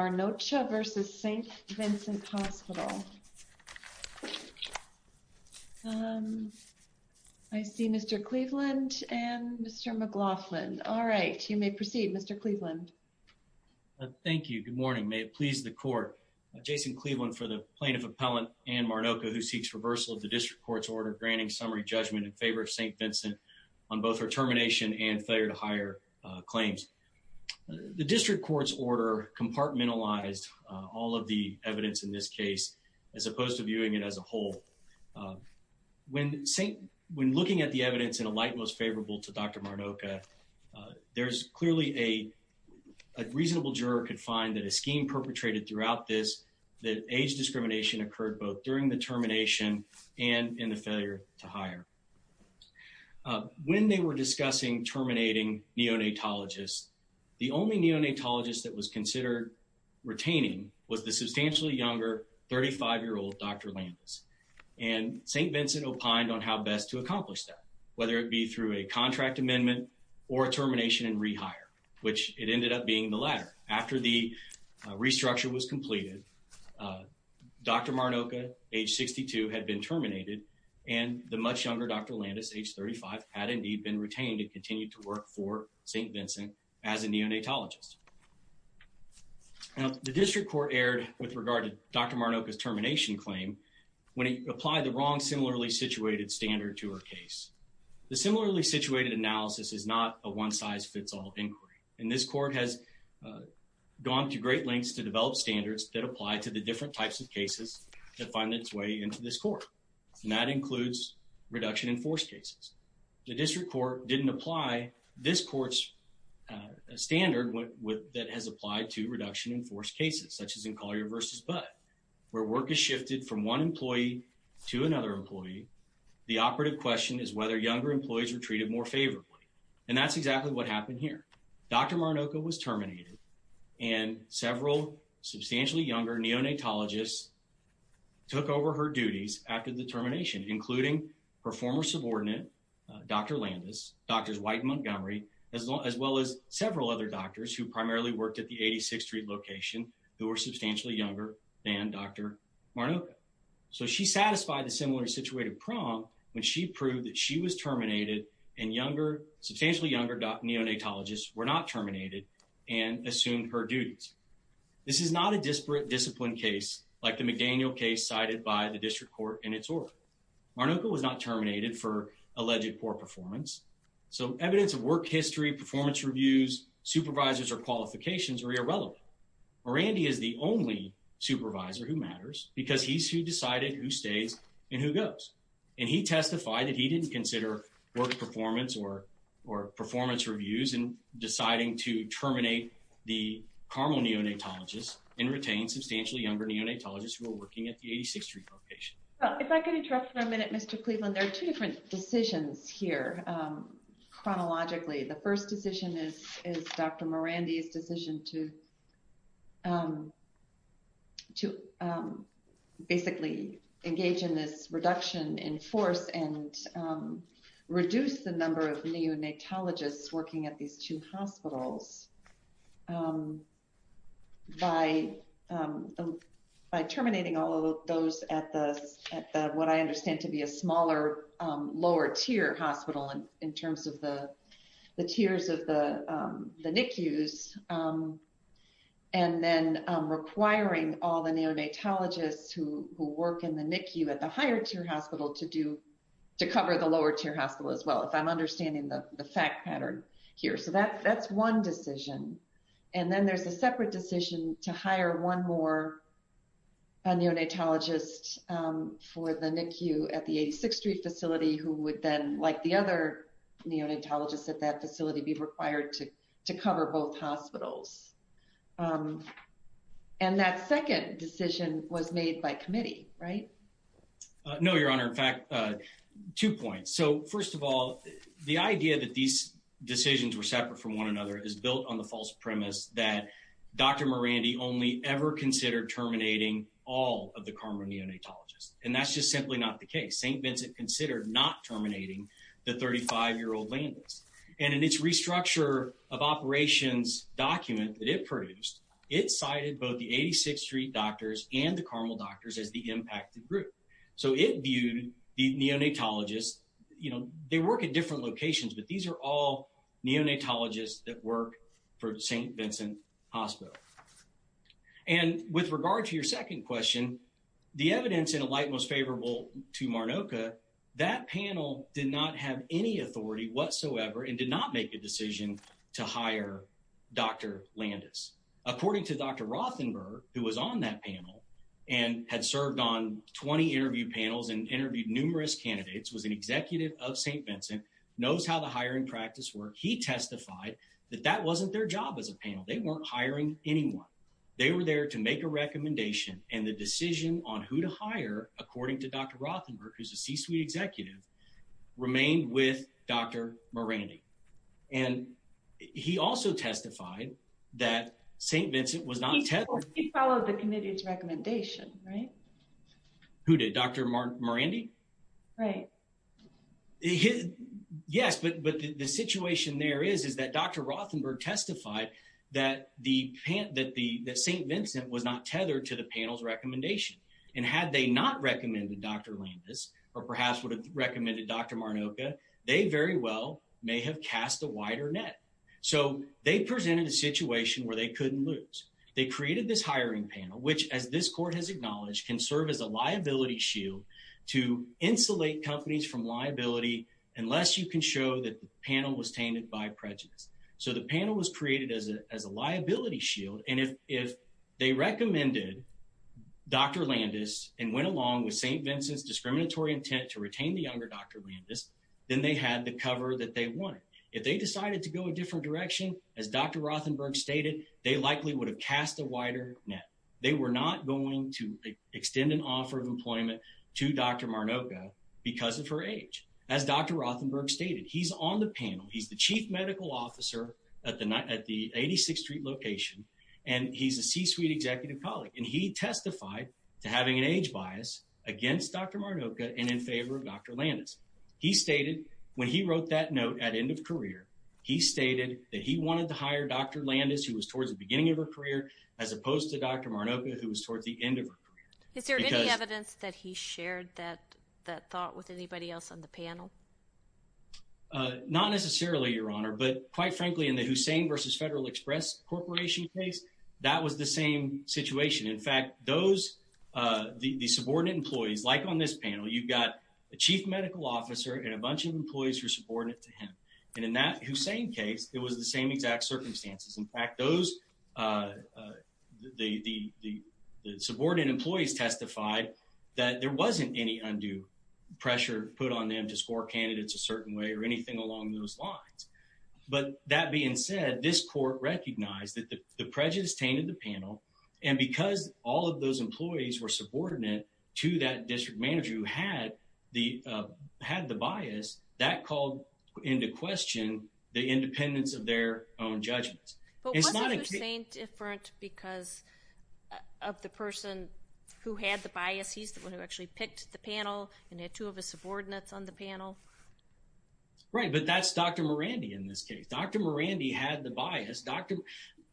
Marnocha v. St. Vincent Hospital. I see Mr. Cleveland and Mr. McLaughlin. All right, you may proceed, Mr. Cleveland. Thank you. Good morning. May it please the Court. Jason Cleveland for the Plaintiff Appellant Ann Marnocha, who seeks reversal of the District Court's order granting summary judgment in favor of St. Vincent on both her termination and failure to hire claims. The District Court's order compartmentalized all of the evidence in this case as opposed to viewing it as a whole. When looking at the evidence in a light most favorable to Dr. Marnocha, there's clearly a reasonable juror could find that a scheme perpetrated throughout this, that age discrimination occurred both during the termination and in terminating neonatologists. The only neonatologist that was considered retaining was the substantially younger 35-year-old Dr. Landis, and St. Vincent opined on how best to accomplish that, whether it be through a contract amendment or a termination and rehire, which it ended up being the latter. After the restructure was completed, Dr. Marnocha, age 62, had been terminated, and the much retained had continued to work for St. Vincent as a neonatologist. The District Court erred with regard to Dr. Marnocha's termination claim when it applied the wrong similarly situated standard to her case. The similarly situated analysis is not a one-size-fits-all inquiry, and this Court has gone to great lengths to develop standards that apply to the different types of cases that find its way into this Court, and that didn't apply this Court's standard that has applied to reduction-enforced cases, such as in Collier v. Budd, where work is shifted from one employee to another employee. The operative question is whether younger employees were treated more favorably, and that's exactly what happened here. Dr. Marnocha was terminated, and several substantially younger neonatologists took over her duties after the termination, including her former colleagues, Drs. White and Montgomery, as well as several other doctors who primarily worked at the 86th Street location, who were substantially younger than Dr. Marnocha. So she satisfied the similarly situated prong when she proved that she was terminated and younger, substantially younger neonatologists were not terminated and assumed her duties. This is not a disparate discipline case like the McDaniel case cited by the District Court in its order. Marnocha was not terminated for alleged poor performance, so evidence of work history, performance reviews, supervisors, or qualifications are irrelevant. Morandi is the only supervisor who matters because he's who decided who stays and who goes, and he testified that he didn't consider work performance or performance reviews in deciding to terminate the Carmel neonatologist and retain substantially younger neonatologists who were working at the 86th Street location. If I could interrupt for a minute, Mr. Cleveland, there are two different decisions here, chronologically. The first decision is Dr. Morandi's decision to basically engage in this reduction in force and reduce the number of neonatologists working at these two hospitals by terminating all of those at what I understand to be a smaller, lower-tier hospital in terms of the tiers of the NICUs, and then requiring all the neonatologists who work in the NICU at the higher-tier hospital to cover the lower-tier hospital as well, if I'm understanding the fact pattern here. So that's one decision. And then there's a separate decision to hire one more neonatologist for the NICU at the 86th Street facility who would then, like the other neonatologists at that facility, be required to cover both hospitals. And that second decision was made by committee, right? No, Your Honor. In fact, two points. So first of all, the idea that these decisions were separate from one another is built on the false premise that Dr. Morandi only ever considered terminating all of the Carmel neonatologists. And that's just simply not the case. St. Vincent considered not terminating the 35-year-old landless. And in its restructure of operations document that it produced, it cited both the 86th Street doctors and the Carmel doctors as the impacted group. So it viewed the neonatologists, they work at different locations, but these are all neonatologists that work for St. Vincent Hospital. And with regard to your second question, the evidence in a light most favorable to Marnoka, that panel did not have any authority whatsoever and did not make a decision to hire Dr. Landis. According to Dr. Rothenberg, who was on that panel and had served on 20 interview panels and interviewed numerous candidates, was an executive of St. Vincent, knows how the hiring practice worked. He testified that that wasn't their job as a panel. They weren't hiring anyone. They were there to make a recommendation and the decision on who to hire, according to Dr. Rothenberg, who's a C-suite executive, remained with Dr. Morandi. And he also testified that St. Vincent was not... He followed the committee's recommendation, right? Who did? Dr. Morandi? Right. Yes, but the situation there is, is that Dr. Rothenberg testified that St. Vincent was not tethered to the panel's recommendation. And had they not recommended Dr. Landis, or perhaps would have recommended Dr. Marnoka, they very well may have cast a wider net. So they presented a situation where they couldn't lose. They created this hiring panel, which as this court has acknowledged, can serve as a liability shield to insulate companies from liability, unless you can show that the panel was tainted by prejudice. So the panel was created as a liability shield. And if they recommended Dr. Landis and went along with St. Vincent's discriminatory intent to retain the younger Dr. Landis, then they had the cover that they they likely would have cast a wider net. They were not going to extend an offer of employment to Dr. Marnoka because of her age. As Dr. Rothenberg stated, he's on the panel. He's the chief medical officer at the 86th Street location. And he's a C-suite executive colleague. And he testified to having an age bias against Dr. Marnoka and in favor of Dr. Landis. He stated when he wrote that note at end of career, he stated that he wanted to hire Dr. Landis, who was towards the beginning of her career, as opposed to Dr. Marnoka, who was towards the end of her career. Is there any evidence that he shared that thought with anybody else on the panel? Not necessarily, Your Honor. But quite frankly, in the Hussein versus Federal Express Corporation case, that was the same situation. In fact, those, the subordinate employees, like on this panel, you've got a chief medical officer and a bunch of employees who are subordinate to him. And in that Hussein case, it was the same exact circumstances. In fact, those, the subordinate employees testified that there wasn't any undue pressure put on them to score candidates a certain way or anything along those lines. But that being said, this court recognized that the prejudice tainted the panel. And because all of those employees were subordinate to that the, had the bias, that called into question the independence of their own judgments. But wasn't Hussein different because of the person who had the bias? He's the one who actually picked the panel and had two of his subordinates on the panel. Right. But that's Dr. Morandi in this case. Dr. Morandi had the bias.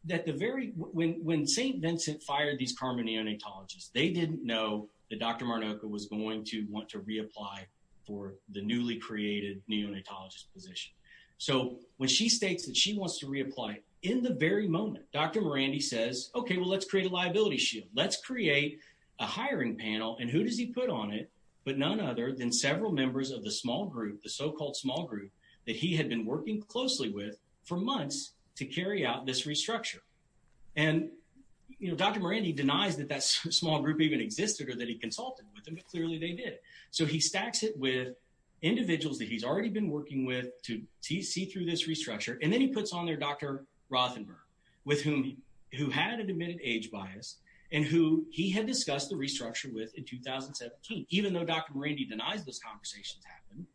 That the very, when St. Vincent fired these carbon neonatologists, they didn't know that Dr. Morandi would want to reapply for the newly created neonatologist position. So when she states that she wants to reapply in the very moment, Dr. Morandi says, okay, well, let's create a liability shield. Let's create a hiring panel. And who does he put on it? But none other than several members of the small group, the so-called small group that he had been working closely with for months to carry out this restructure. And, you know, Dr. Morandi denies that that small group even existed or that he consulted with them, but clearly they did. So he stacks it with individuals that he's already been working with to see through this restructure. And then he puts on there Dr. Rothenberg, with whom, who had an admitted age bias and who he had discussed the restructure with in 2017. Even though Dr. Morandi denies those conversations happened,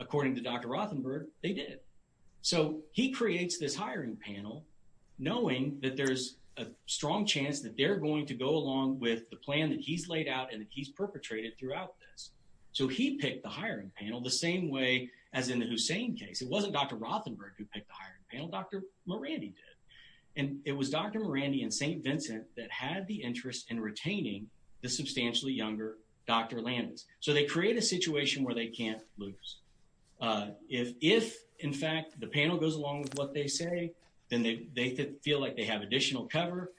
according to Dr. Rothenberg, they did. So he creates this hiring panel, knowing that there's a strong chance that they're going to go along with the plan that he's laid out and that he's perpetrated throughout this. So he picked the hiring panel the same way as in the Hussein case. It wasn't Dr. Rothenberg who picked the hiring panel, Dr. Morandi did. And it was Dr. Morandi and St. Vincent that had the interest in retaining the substantially younger Dr. Landis. So they create a situation where they can't lose. If, in fact, the panel goes along with what they say, then they feel like they have additional cover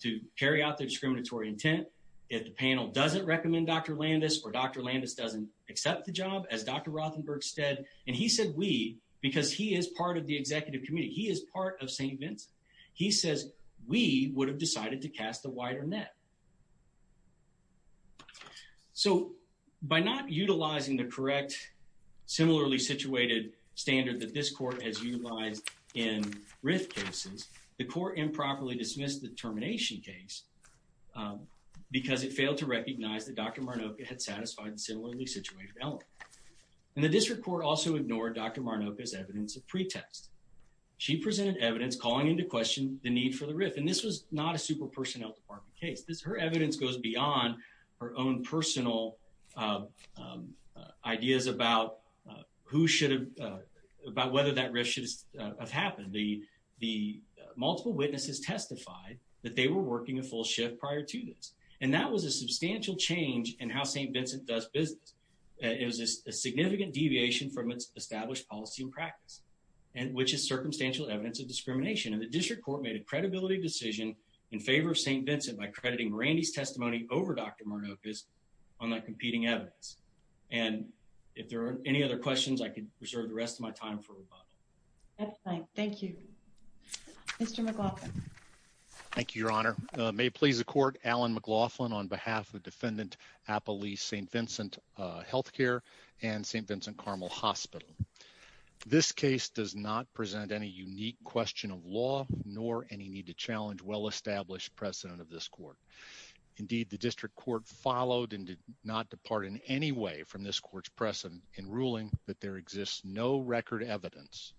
to carry out their discriminatory intent. If the panel doesn't recommend Dr. Landis or Dr. Landis doesn't accept the job, as Dr. Rothenberg said, and he said we because he is part of the executive committee, he is part of St. Vincent, he says we would have decided to cast a wider net. So by not utilizing the correct similarly situated standard that this court has utilized in RIF cases, the court improperly dismissed the termination case because it failed to recognize that Dr. Marnoka had satisfied the similarly situated element. And the district court also ignored Dr. Marnoka's evidence of pretext. She presented evidence calling into question the need for the RIF. And this was not a super personnel department case. Her evidence goes beyond her own personal ideas about who should have, about whether that RIF should have happened. The multiple witnesses testified that they were working a full shift prior to this. And that was a substantial change in how St. Vincent does business. It was a significant deviation from its established policy and practice, which is circumstantial evidence of discrimination. And the district court made a credibility decision in favor of St. Vincent by crediting Randy's testimony over Dr. Marnoka's testimony. And if there are any other questions, I could reserve the rest of my time for rebuttal. Excellent. Thank you. Mr. McLaughlin. Thank you, Your Honor. May it please the court, Alan McLaughlin, on behalf of Defendant Appalee St. Vincent Healthcare and St. Vincent Carmel Hospital. This case does not present any unique question of law nor any need to challenge well followed and did not depart in any way from this court's precedent in ruling that there exists no record evidence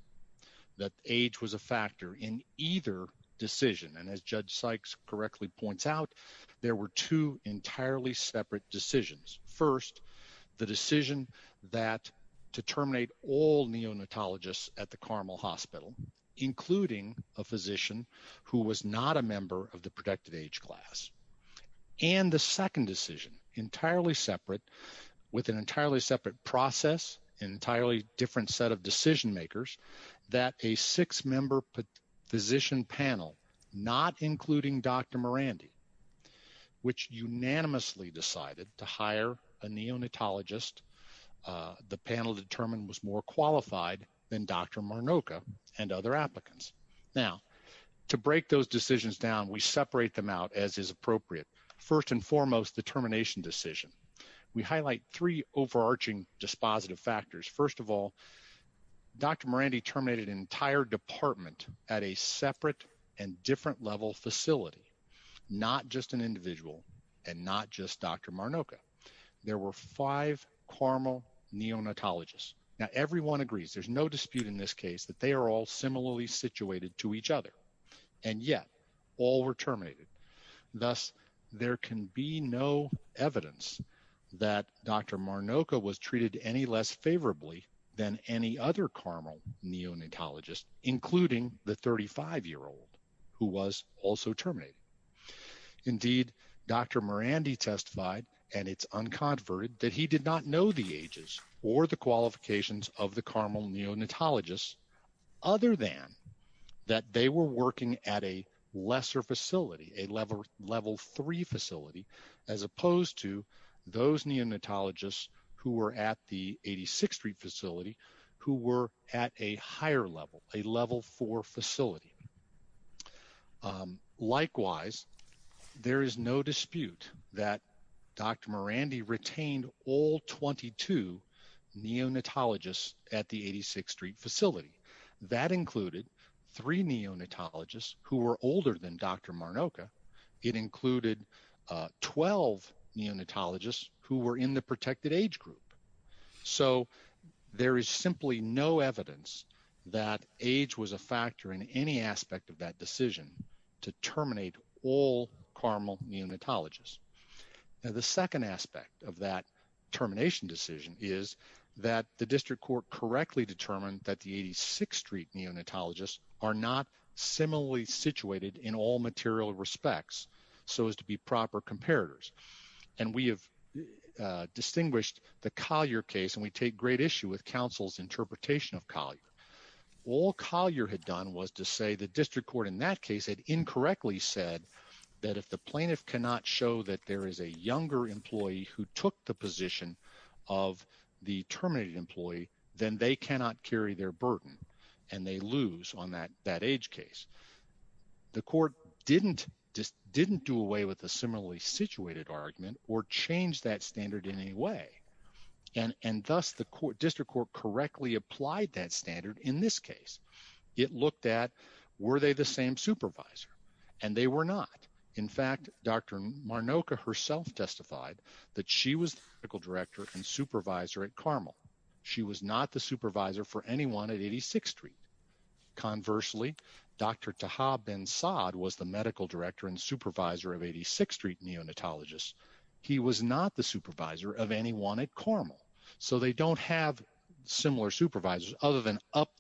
that age was a factor in either decision. And as Judge Sykes correctly points out, there were two entirely separate decisions. First, the decision that to terminate all neonatologists at the Carmel Hospital, including a physician who was not a member of the protected class. And the second decision, entirely separate with an entirely separate process, entirely different set of decision makers, that a six member physician panel, not including Dr. Morandi, which unanimously decided to hire a neonatologist, the panel determined was more qualified than Dr. Marnoka and other applicants. Now, to break those decisions down, we separate them out as is appropriate. First and foremost, the termination decision. We highlight three overarching dispositive factors. First of all, Dr. Morandi terminated an entire department at a separate and different level facility, not just an individual and not just Dr. Marnoka. There were five Carmel neonatologists. Now, everyone agrees, there's no dispute in this case that they are all Thus, there can be no evidence that Dr. Marnoka was treated any less favorably than any other Carmel neonatologist, including the 35-year-old who was also terminated. Indeed, Dr. Morandi testified, and it's unconverted, that he did not know the ages or the qualifications of the Carmel neonatologists, other than that they were working at a lesser facility, a level three facility, as opposed to those neonatologists who were at the 86th Street facility, who were at a higher level, a level four facility. Likewise, there is no dispute that Dr. Morandi retained all 22 neonatologists at the 86th Street facility. That included three neonatologists who were older than Dr. Marnoka. It included 12 neonatologists who were in the protected age group. So there is simply no evidence that age was a factor in any aspect of that decision to terminate all Carmel neonatologists. Now, the second aspect of that termination decision is that the district court correctly determined that the 86th Street neonatologists are not similarly situated in all material respects, so as to be proper comparators. And we have distinguished the Collier case, and we take great issue with counsel's interpretation of Collier. All Collier had done was to say the district court in that case had incorrectly said that if the plaintiff cannot show that there is a younger employee who took the position of the terminated employee, then they cannot carry their burden, and they lose on that age case. The court didn't do away with the similarly situated argument or change that standard in any way, and thus the district court correctly applied that standard in this case. It looked at were they the same supervisor, and they were not. In fact, Dr. Marnoka herself testified that she was the medical director and supervisor at Carmel. She was not the supervisor for anyone at 86th Street. Conversely, Dr. Taha Bin Saad was the medical director and supervisor of 86th Street neonatologists. He was not the supervisor of 86th Street neonatologists. He was the medical director and supervisor of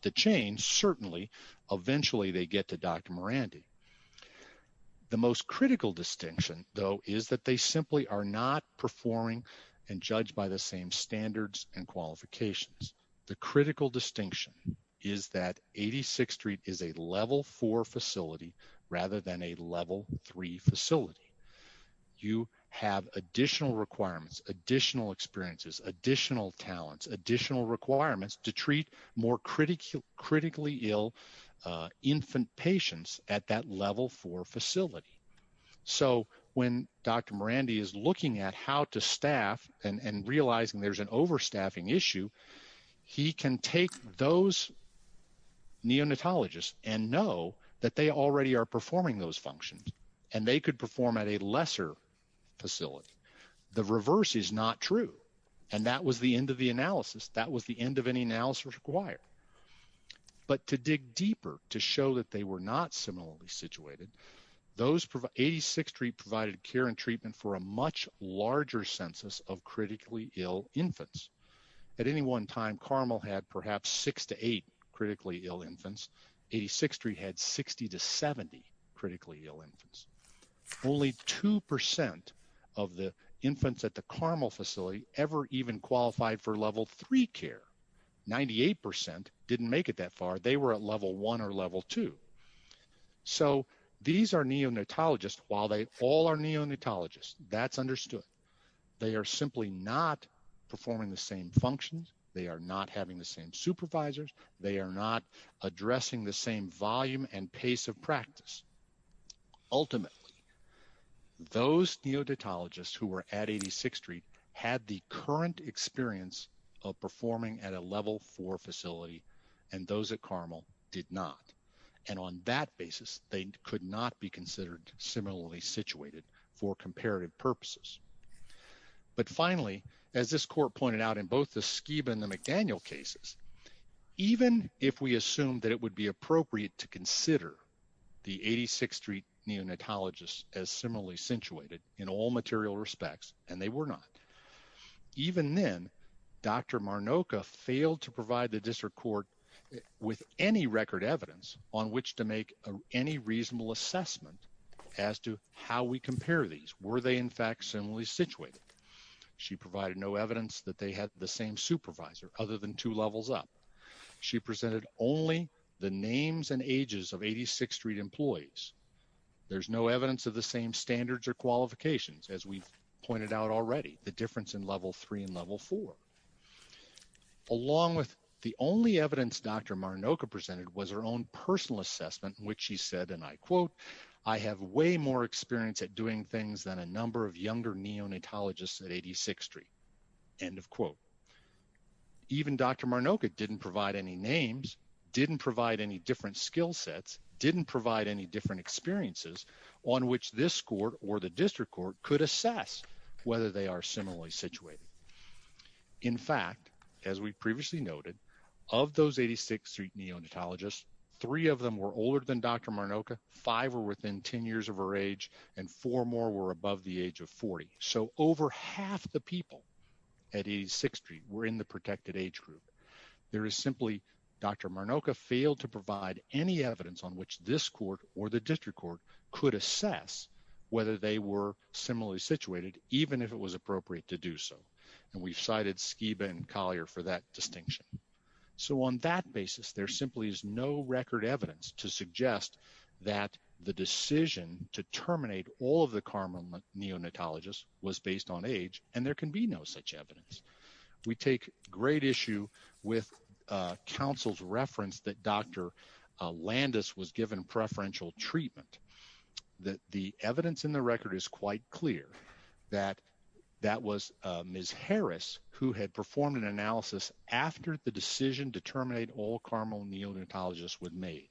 86th Street neonatologists. The most critical distinction, though, is that they simply are not performing and judged by the same standards and qualifications. The critical distinction is that 86th Street is a level 4 facility rather than a level 3 facility. You have additional requirements, additional experiences, additional talents, additional requirements to treat more critically ill infant patients at that level 4 facility. So when Dr. Morandi is looking at how to staff and realizing there's an overstaffing issue, he can take those neonatologists and know that they already are performing those functions, and they could perform at a lesser facility. The reverse is not true, and that was the end of the analysis. That was the end of any analysis required. But to dig deeper, to show that they were not similarly situated, 86th Street provided care and treatment for a much larger census of critically ill infants. At any one time, Carmel had perhaps 6 to 8 critically ill infants. 86th Street had 60 to 70 critically ill infants. Only 2% of the infants at the Carmel facility ever even qualified for level 3 care. 98% didn't make it that far. They were at level 1 or level 2. So these are neonatologists. While they all are neonatologists, that's understood. They are simply not performing the same functions. They are not having the same supervisors. They are not addressing the same volume and pace of practice. Ultimately, those neonatologists who were at 86th Street had the current experience of performing at a level 4 facility, and those at Carmel did not. And on that basis, they could not be considered similarly situated for comparative purposes. But finally, as this court pointed out in both the Skiba and the McDaniel cases, even if we assume that it would be appropriate to consider the 86th Street neonatologists as similarly situated in all material respects, and they were not, even then, Dr. Marnoka failed to provide the district court with any record evidence on which to make any reasonable assessment as to how we compare these. Were they, in fact, similarly situated? She provided no evidence that they had the same supervisor other than two levels up. She presented only the names and ages of 86th Street employees. There's no evidence of the same standards or qualifications, as we've pointed out already, the difference in level 3 and level 4. Along with the only evidence Dr. Marnoka presented was her own personal assessment in which she said, and I quote, I have way more experience at doing things than a number of names, didn't provide any different skill sets, didn't provide any different experiences on which this court or the district court could assess whether they are similarly situated. In fact, as we previously noted, of those 86th Street neonatologists, three of them were older than Dr. Marnoka, five were within 10 years of her age, and four more were above the age of 40. So over half the people at 86th Street were in the protected age group. There is simply Dr. Marnoka failed to provide any evidence on which this court or the district court could assess whether they were similarly situated, even if it was appropriate to do so. And we've cited Skiba and Collier for that distinction. So on that basis, there simply is no record evidence to was based on age, and there can be no such evidence. We take great issue with counsel's reference that Dr. Landis was given preferential treatment. That the evidence in the record is quite clear that that was Ms. Harris who had performed an analysis after the decision to terminate all caramel neonatologists was made.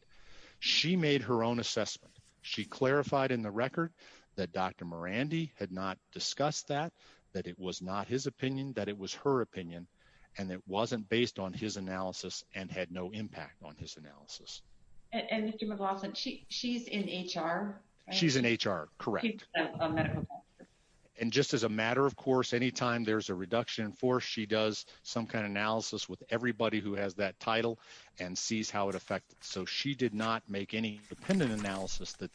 She made her own assessment. She clarified in the record that Dr. Morandi had not discussed that, that it was not his opinion, that it was her opinion, and it wasn't based on his analysis and had no impact on his analysis. And she's in HR. She's in HR. Correct. And just as a matter of course, anytime there's a reduction in force, she does some kind of independent analysis that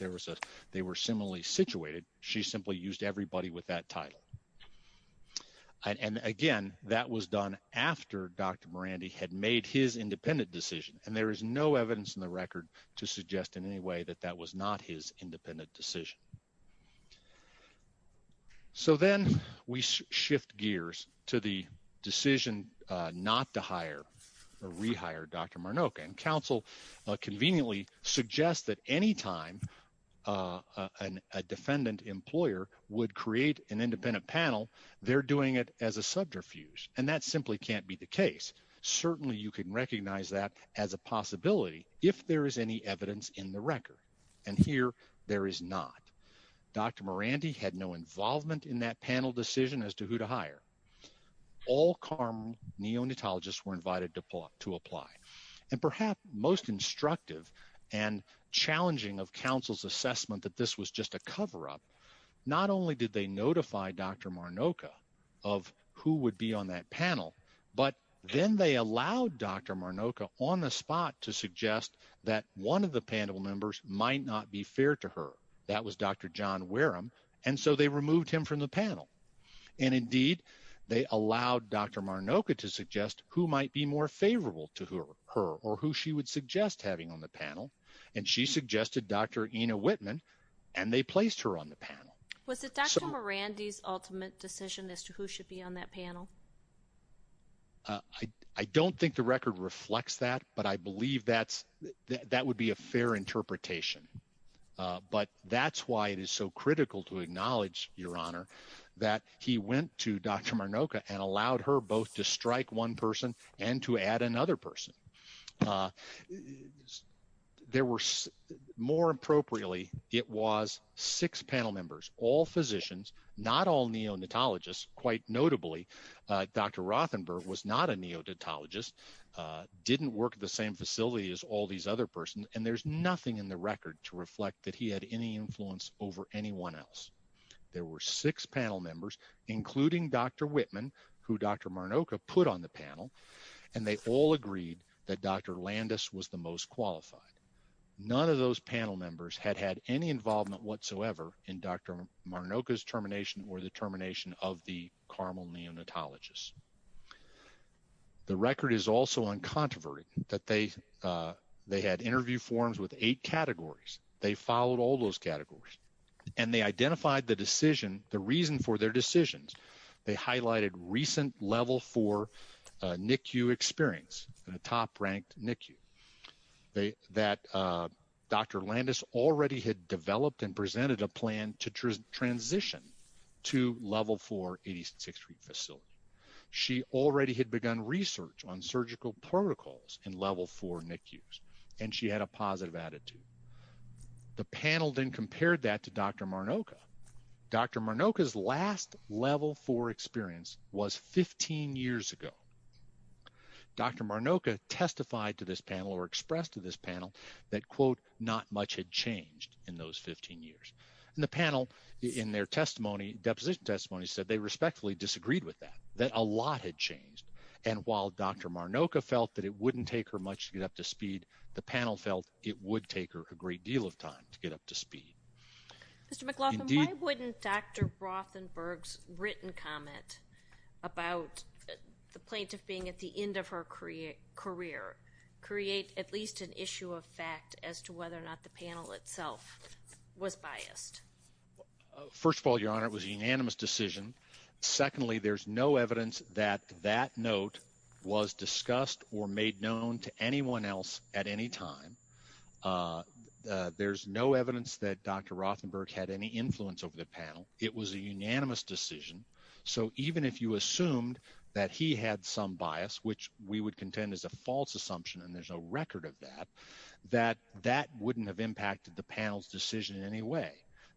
they were similarly situated. She simply used everybody with that title. And again, that was done after Dr. Morandi had made his independent decision, and there is no evidence in the record to suggest in any way that that was not his independent decision. So then we shift gears to the decision not to hire or rehire Dr. Marnok. And counsel conveniently suggests that anytime a defendant employer would create an independent panel, they're doing it as a subterfuge. And that simply can't be the case. Certainly you can recognize that as a possibility if there is any evidence in the record. And here there is not. Dr. Morandi had no involvement in that panel decision as to who to hire. All caramel neonatologists were and challenging of counsel's assessment that this was just a cover-up. Not only did they notify Dr. Marnok of who would be on that panel, but then they allowed Dr. Marnok on the spot to suggest that one of the panel members might not be fair to her. That was Dr. John Wareham. And so they removed him from the panel. And indeed, they allowed Dr. Marnok to suggest who might be favorable to her or who she would suggest having on the panel. And she suggested Dr. Ina Whitman, and they placed her on the panel. Was it Dr. Morandi's ultimate decision as to who should be on that panel? I don't think the record reflects that, but I believe that would be a fair interpretation. But that's why it is so critical to acknowledge, Your Honor, that he went to Dr. Morandi to add another person. More appropriately, it was six panel members, all physicians, not all neonatologists. Quite notably, Dr. Rothenberg was not a neonatologist, didn't work at the same facility as all these other persons, and there's nothing in the record to reflect that he had any influence over anyone else. There were six panel members, including Dr. Whitman, who Dr. Marnok put on the panel, and they all agreed that Dr. Landis was the most qualified. None of those panel members had had any involvement whatsoever in Dr. Marnok's termination or the termination of the Carmel neonatologist. The record is also uncontroverted that they had interview forms with eight categories. They followed all those categories, and they identified the decision, the reason for their decisions. They highlighted recent Level 4 NICU experience, a top-ranked NICU, that Dr. Landis already had developed and presented a plan to transition to Level 4 86th Street facility. She already had begun research on surgical protocols in Level 4 NICUs, and she had a positive attitude. The panel then compared that to Dr. Marnok. Dr. Marnok's last Level 4 experience was 15 years ago. Dr. Marnok testified to this panel or expressed to this panel that, quote, not much had changed in those 15 years. And the panel, in their testimony, deposition testimony, said they respectfully disagreed with that, that a lot had changed. And while Dr. Marnok felt that it wouldn't take her much to get up to speed, the panel felt it would take her a great deal of time to get up to speed. Mr. McLaughlin, why wouldn't Dr. Rothenberg's written comment about the plaintiff being at the end of her career create at least an issue of fact as to whether or not the panel itself was biased? First of all, Your Honor, it was a unanimous decision. Secondly, there's no evidence that Dr. Rothenberg had any influence over the panel. It was a unanimous decision. So even if you assumed that he had some bias, which we would contend is a false assumption, and there's no record of that, that that wouldn't have impacted the panel's decision in any way.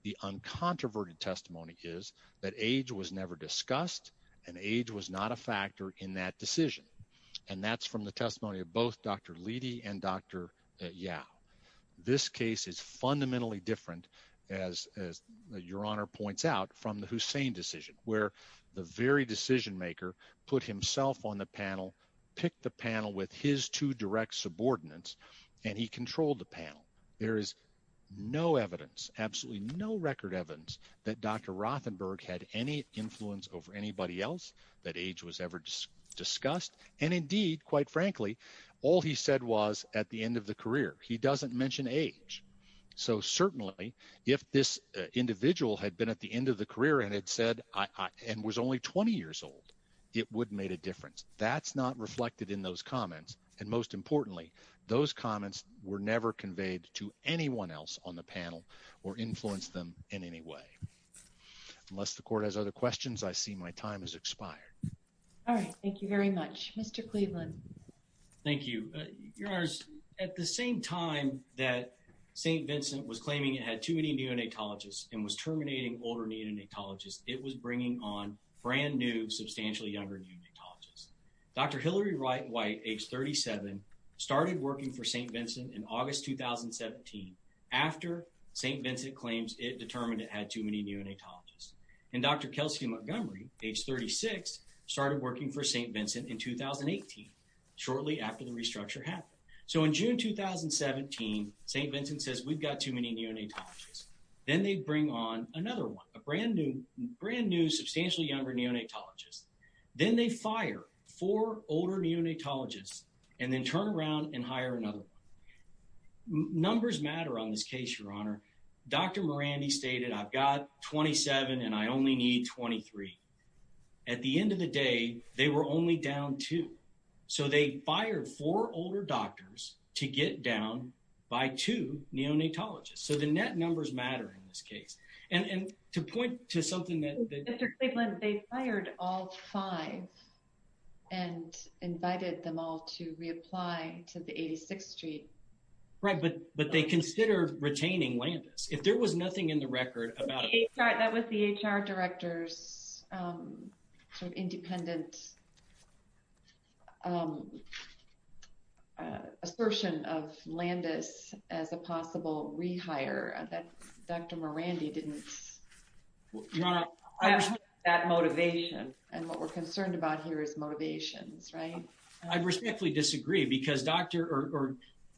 The uncontroverted testimony is that age was never discussed, and age was not a factor in that as Your Honor points out from the Hussein decision, where the very decision maker put himself on the panel, picked the panel with his two direct subordinates, and he controlled the panel. There is no evidence, absolutely no record evidence, that Dr. Rothenberg had any influence over anybody else, that age was ever discussed. And indeed, quite frankly, all he said was at the if this individual had been at the end of the career and had said, and was only 20 years old, it would have made a difference. That's not reflected in those comments. And most importantly, those comments were never conveyed to anyone else on the panel or influenced them in any way. Unless the Court has other questions, I see my time has expired. All right. Thank you very much. Mr. Cleveland. Thank you. Your Honor, at the same time that St. Vincent was claiming it had too many neonatologists and was terminating older neonatologists, it was bringing on brand new, substantially younger neonatologists. Dr. Hillary White, age 37, started working for St. Vincent in August 2017, after St. Vincent claims it determined it had too many neonatologists. And Dr. Kelsey Montgomery, age 36, started working for St. Vincent in 2018, shortly after the restructure happened. So in June 2017, St. Vincent says, we've got too many neonatologists. Then they bring on another one, a brand new, substantially younger neonatologist. Then they fire four older neonatologists, and then turn around and hire another one. Numbers matter on this case, Your Honor. Dr. Morandi stated, I've got 27 and I only need 23. At the end of the day, they were only down two. So they fired four older doctors to get down by two neonatologists. So the net numbers matter in this case. And to point to something that- Mr. Cleveland, they fired all five and invited them all to reapply to the 86th Street. Right, but they considered retaining Landis. If there was nothing in the record about- That was the HR director's independent assertion of Landis as a possible rehire, that Dr. Morandi didn't- I respect that motivation. And what we're concerned about here is motivations, right? I respectfully disagree because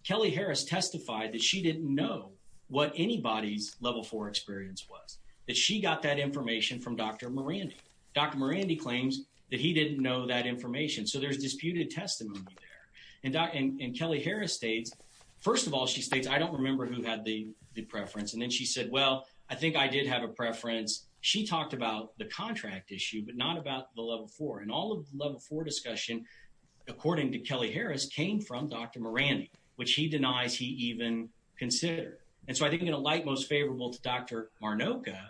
Kelly Harris testified that she didn't know what anybody's level four experience was, that she got that information from Dr. Morandi. Dr. Morandi claims that he didn't know that information. So there's disputed testimony there. And Kelly Harris states, first of all, she states, I don't remember who had the preference. And then she said, well, I think I did have a preference. She talked about the contract issue, but not about the level four. And all of the level four discussion, according to Kelly Harris, came from Dr. Morandi, which he denies he even considered. And so I think in a light most favorable to Dr. Marnoka,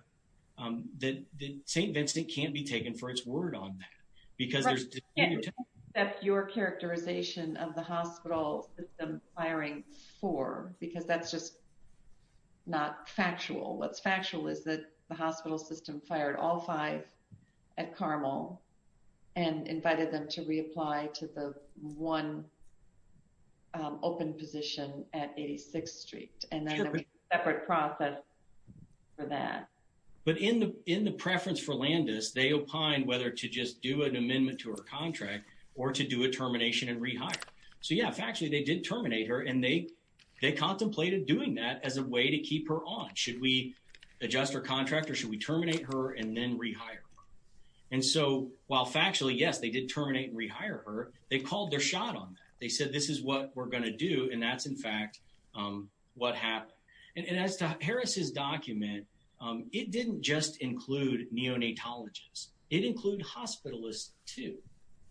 that St. Vincent can't be taken for its word on that because there's- But you can't accept your characterization of the hospital system firing four because that's just not factual. What's factual is that the hospital system fired all five at Carmel and invited them to reapply to the one open position at 86th Street. And then there was a separate process for that. But in the preference for Landis, they opined whether to just do an amendment to her contract or to do a termination and rehire. So yeah, factually, they did terminate her and they contemplated doing that as a way to keep her on. Should we adjust her contract or should we terminate her and then rehire her? And so while factually, yes, they did terminate and rehire her, they called their shot on that. They said, this is what we're going to do. And that's, in fact, what happened. And as to Harris's document, it didn't just include neonatologists. It included hospitalists too.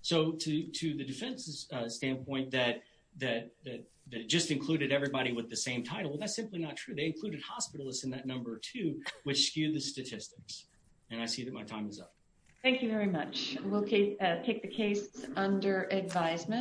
So to the defense's standpoint that it just included everybody with the same title, well, that's simply not true. They included hospitalists in that number too, which skewed the statistics. And I see that my time is up. Thank you very much. We'll take the case under advisement.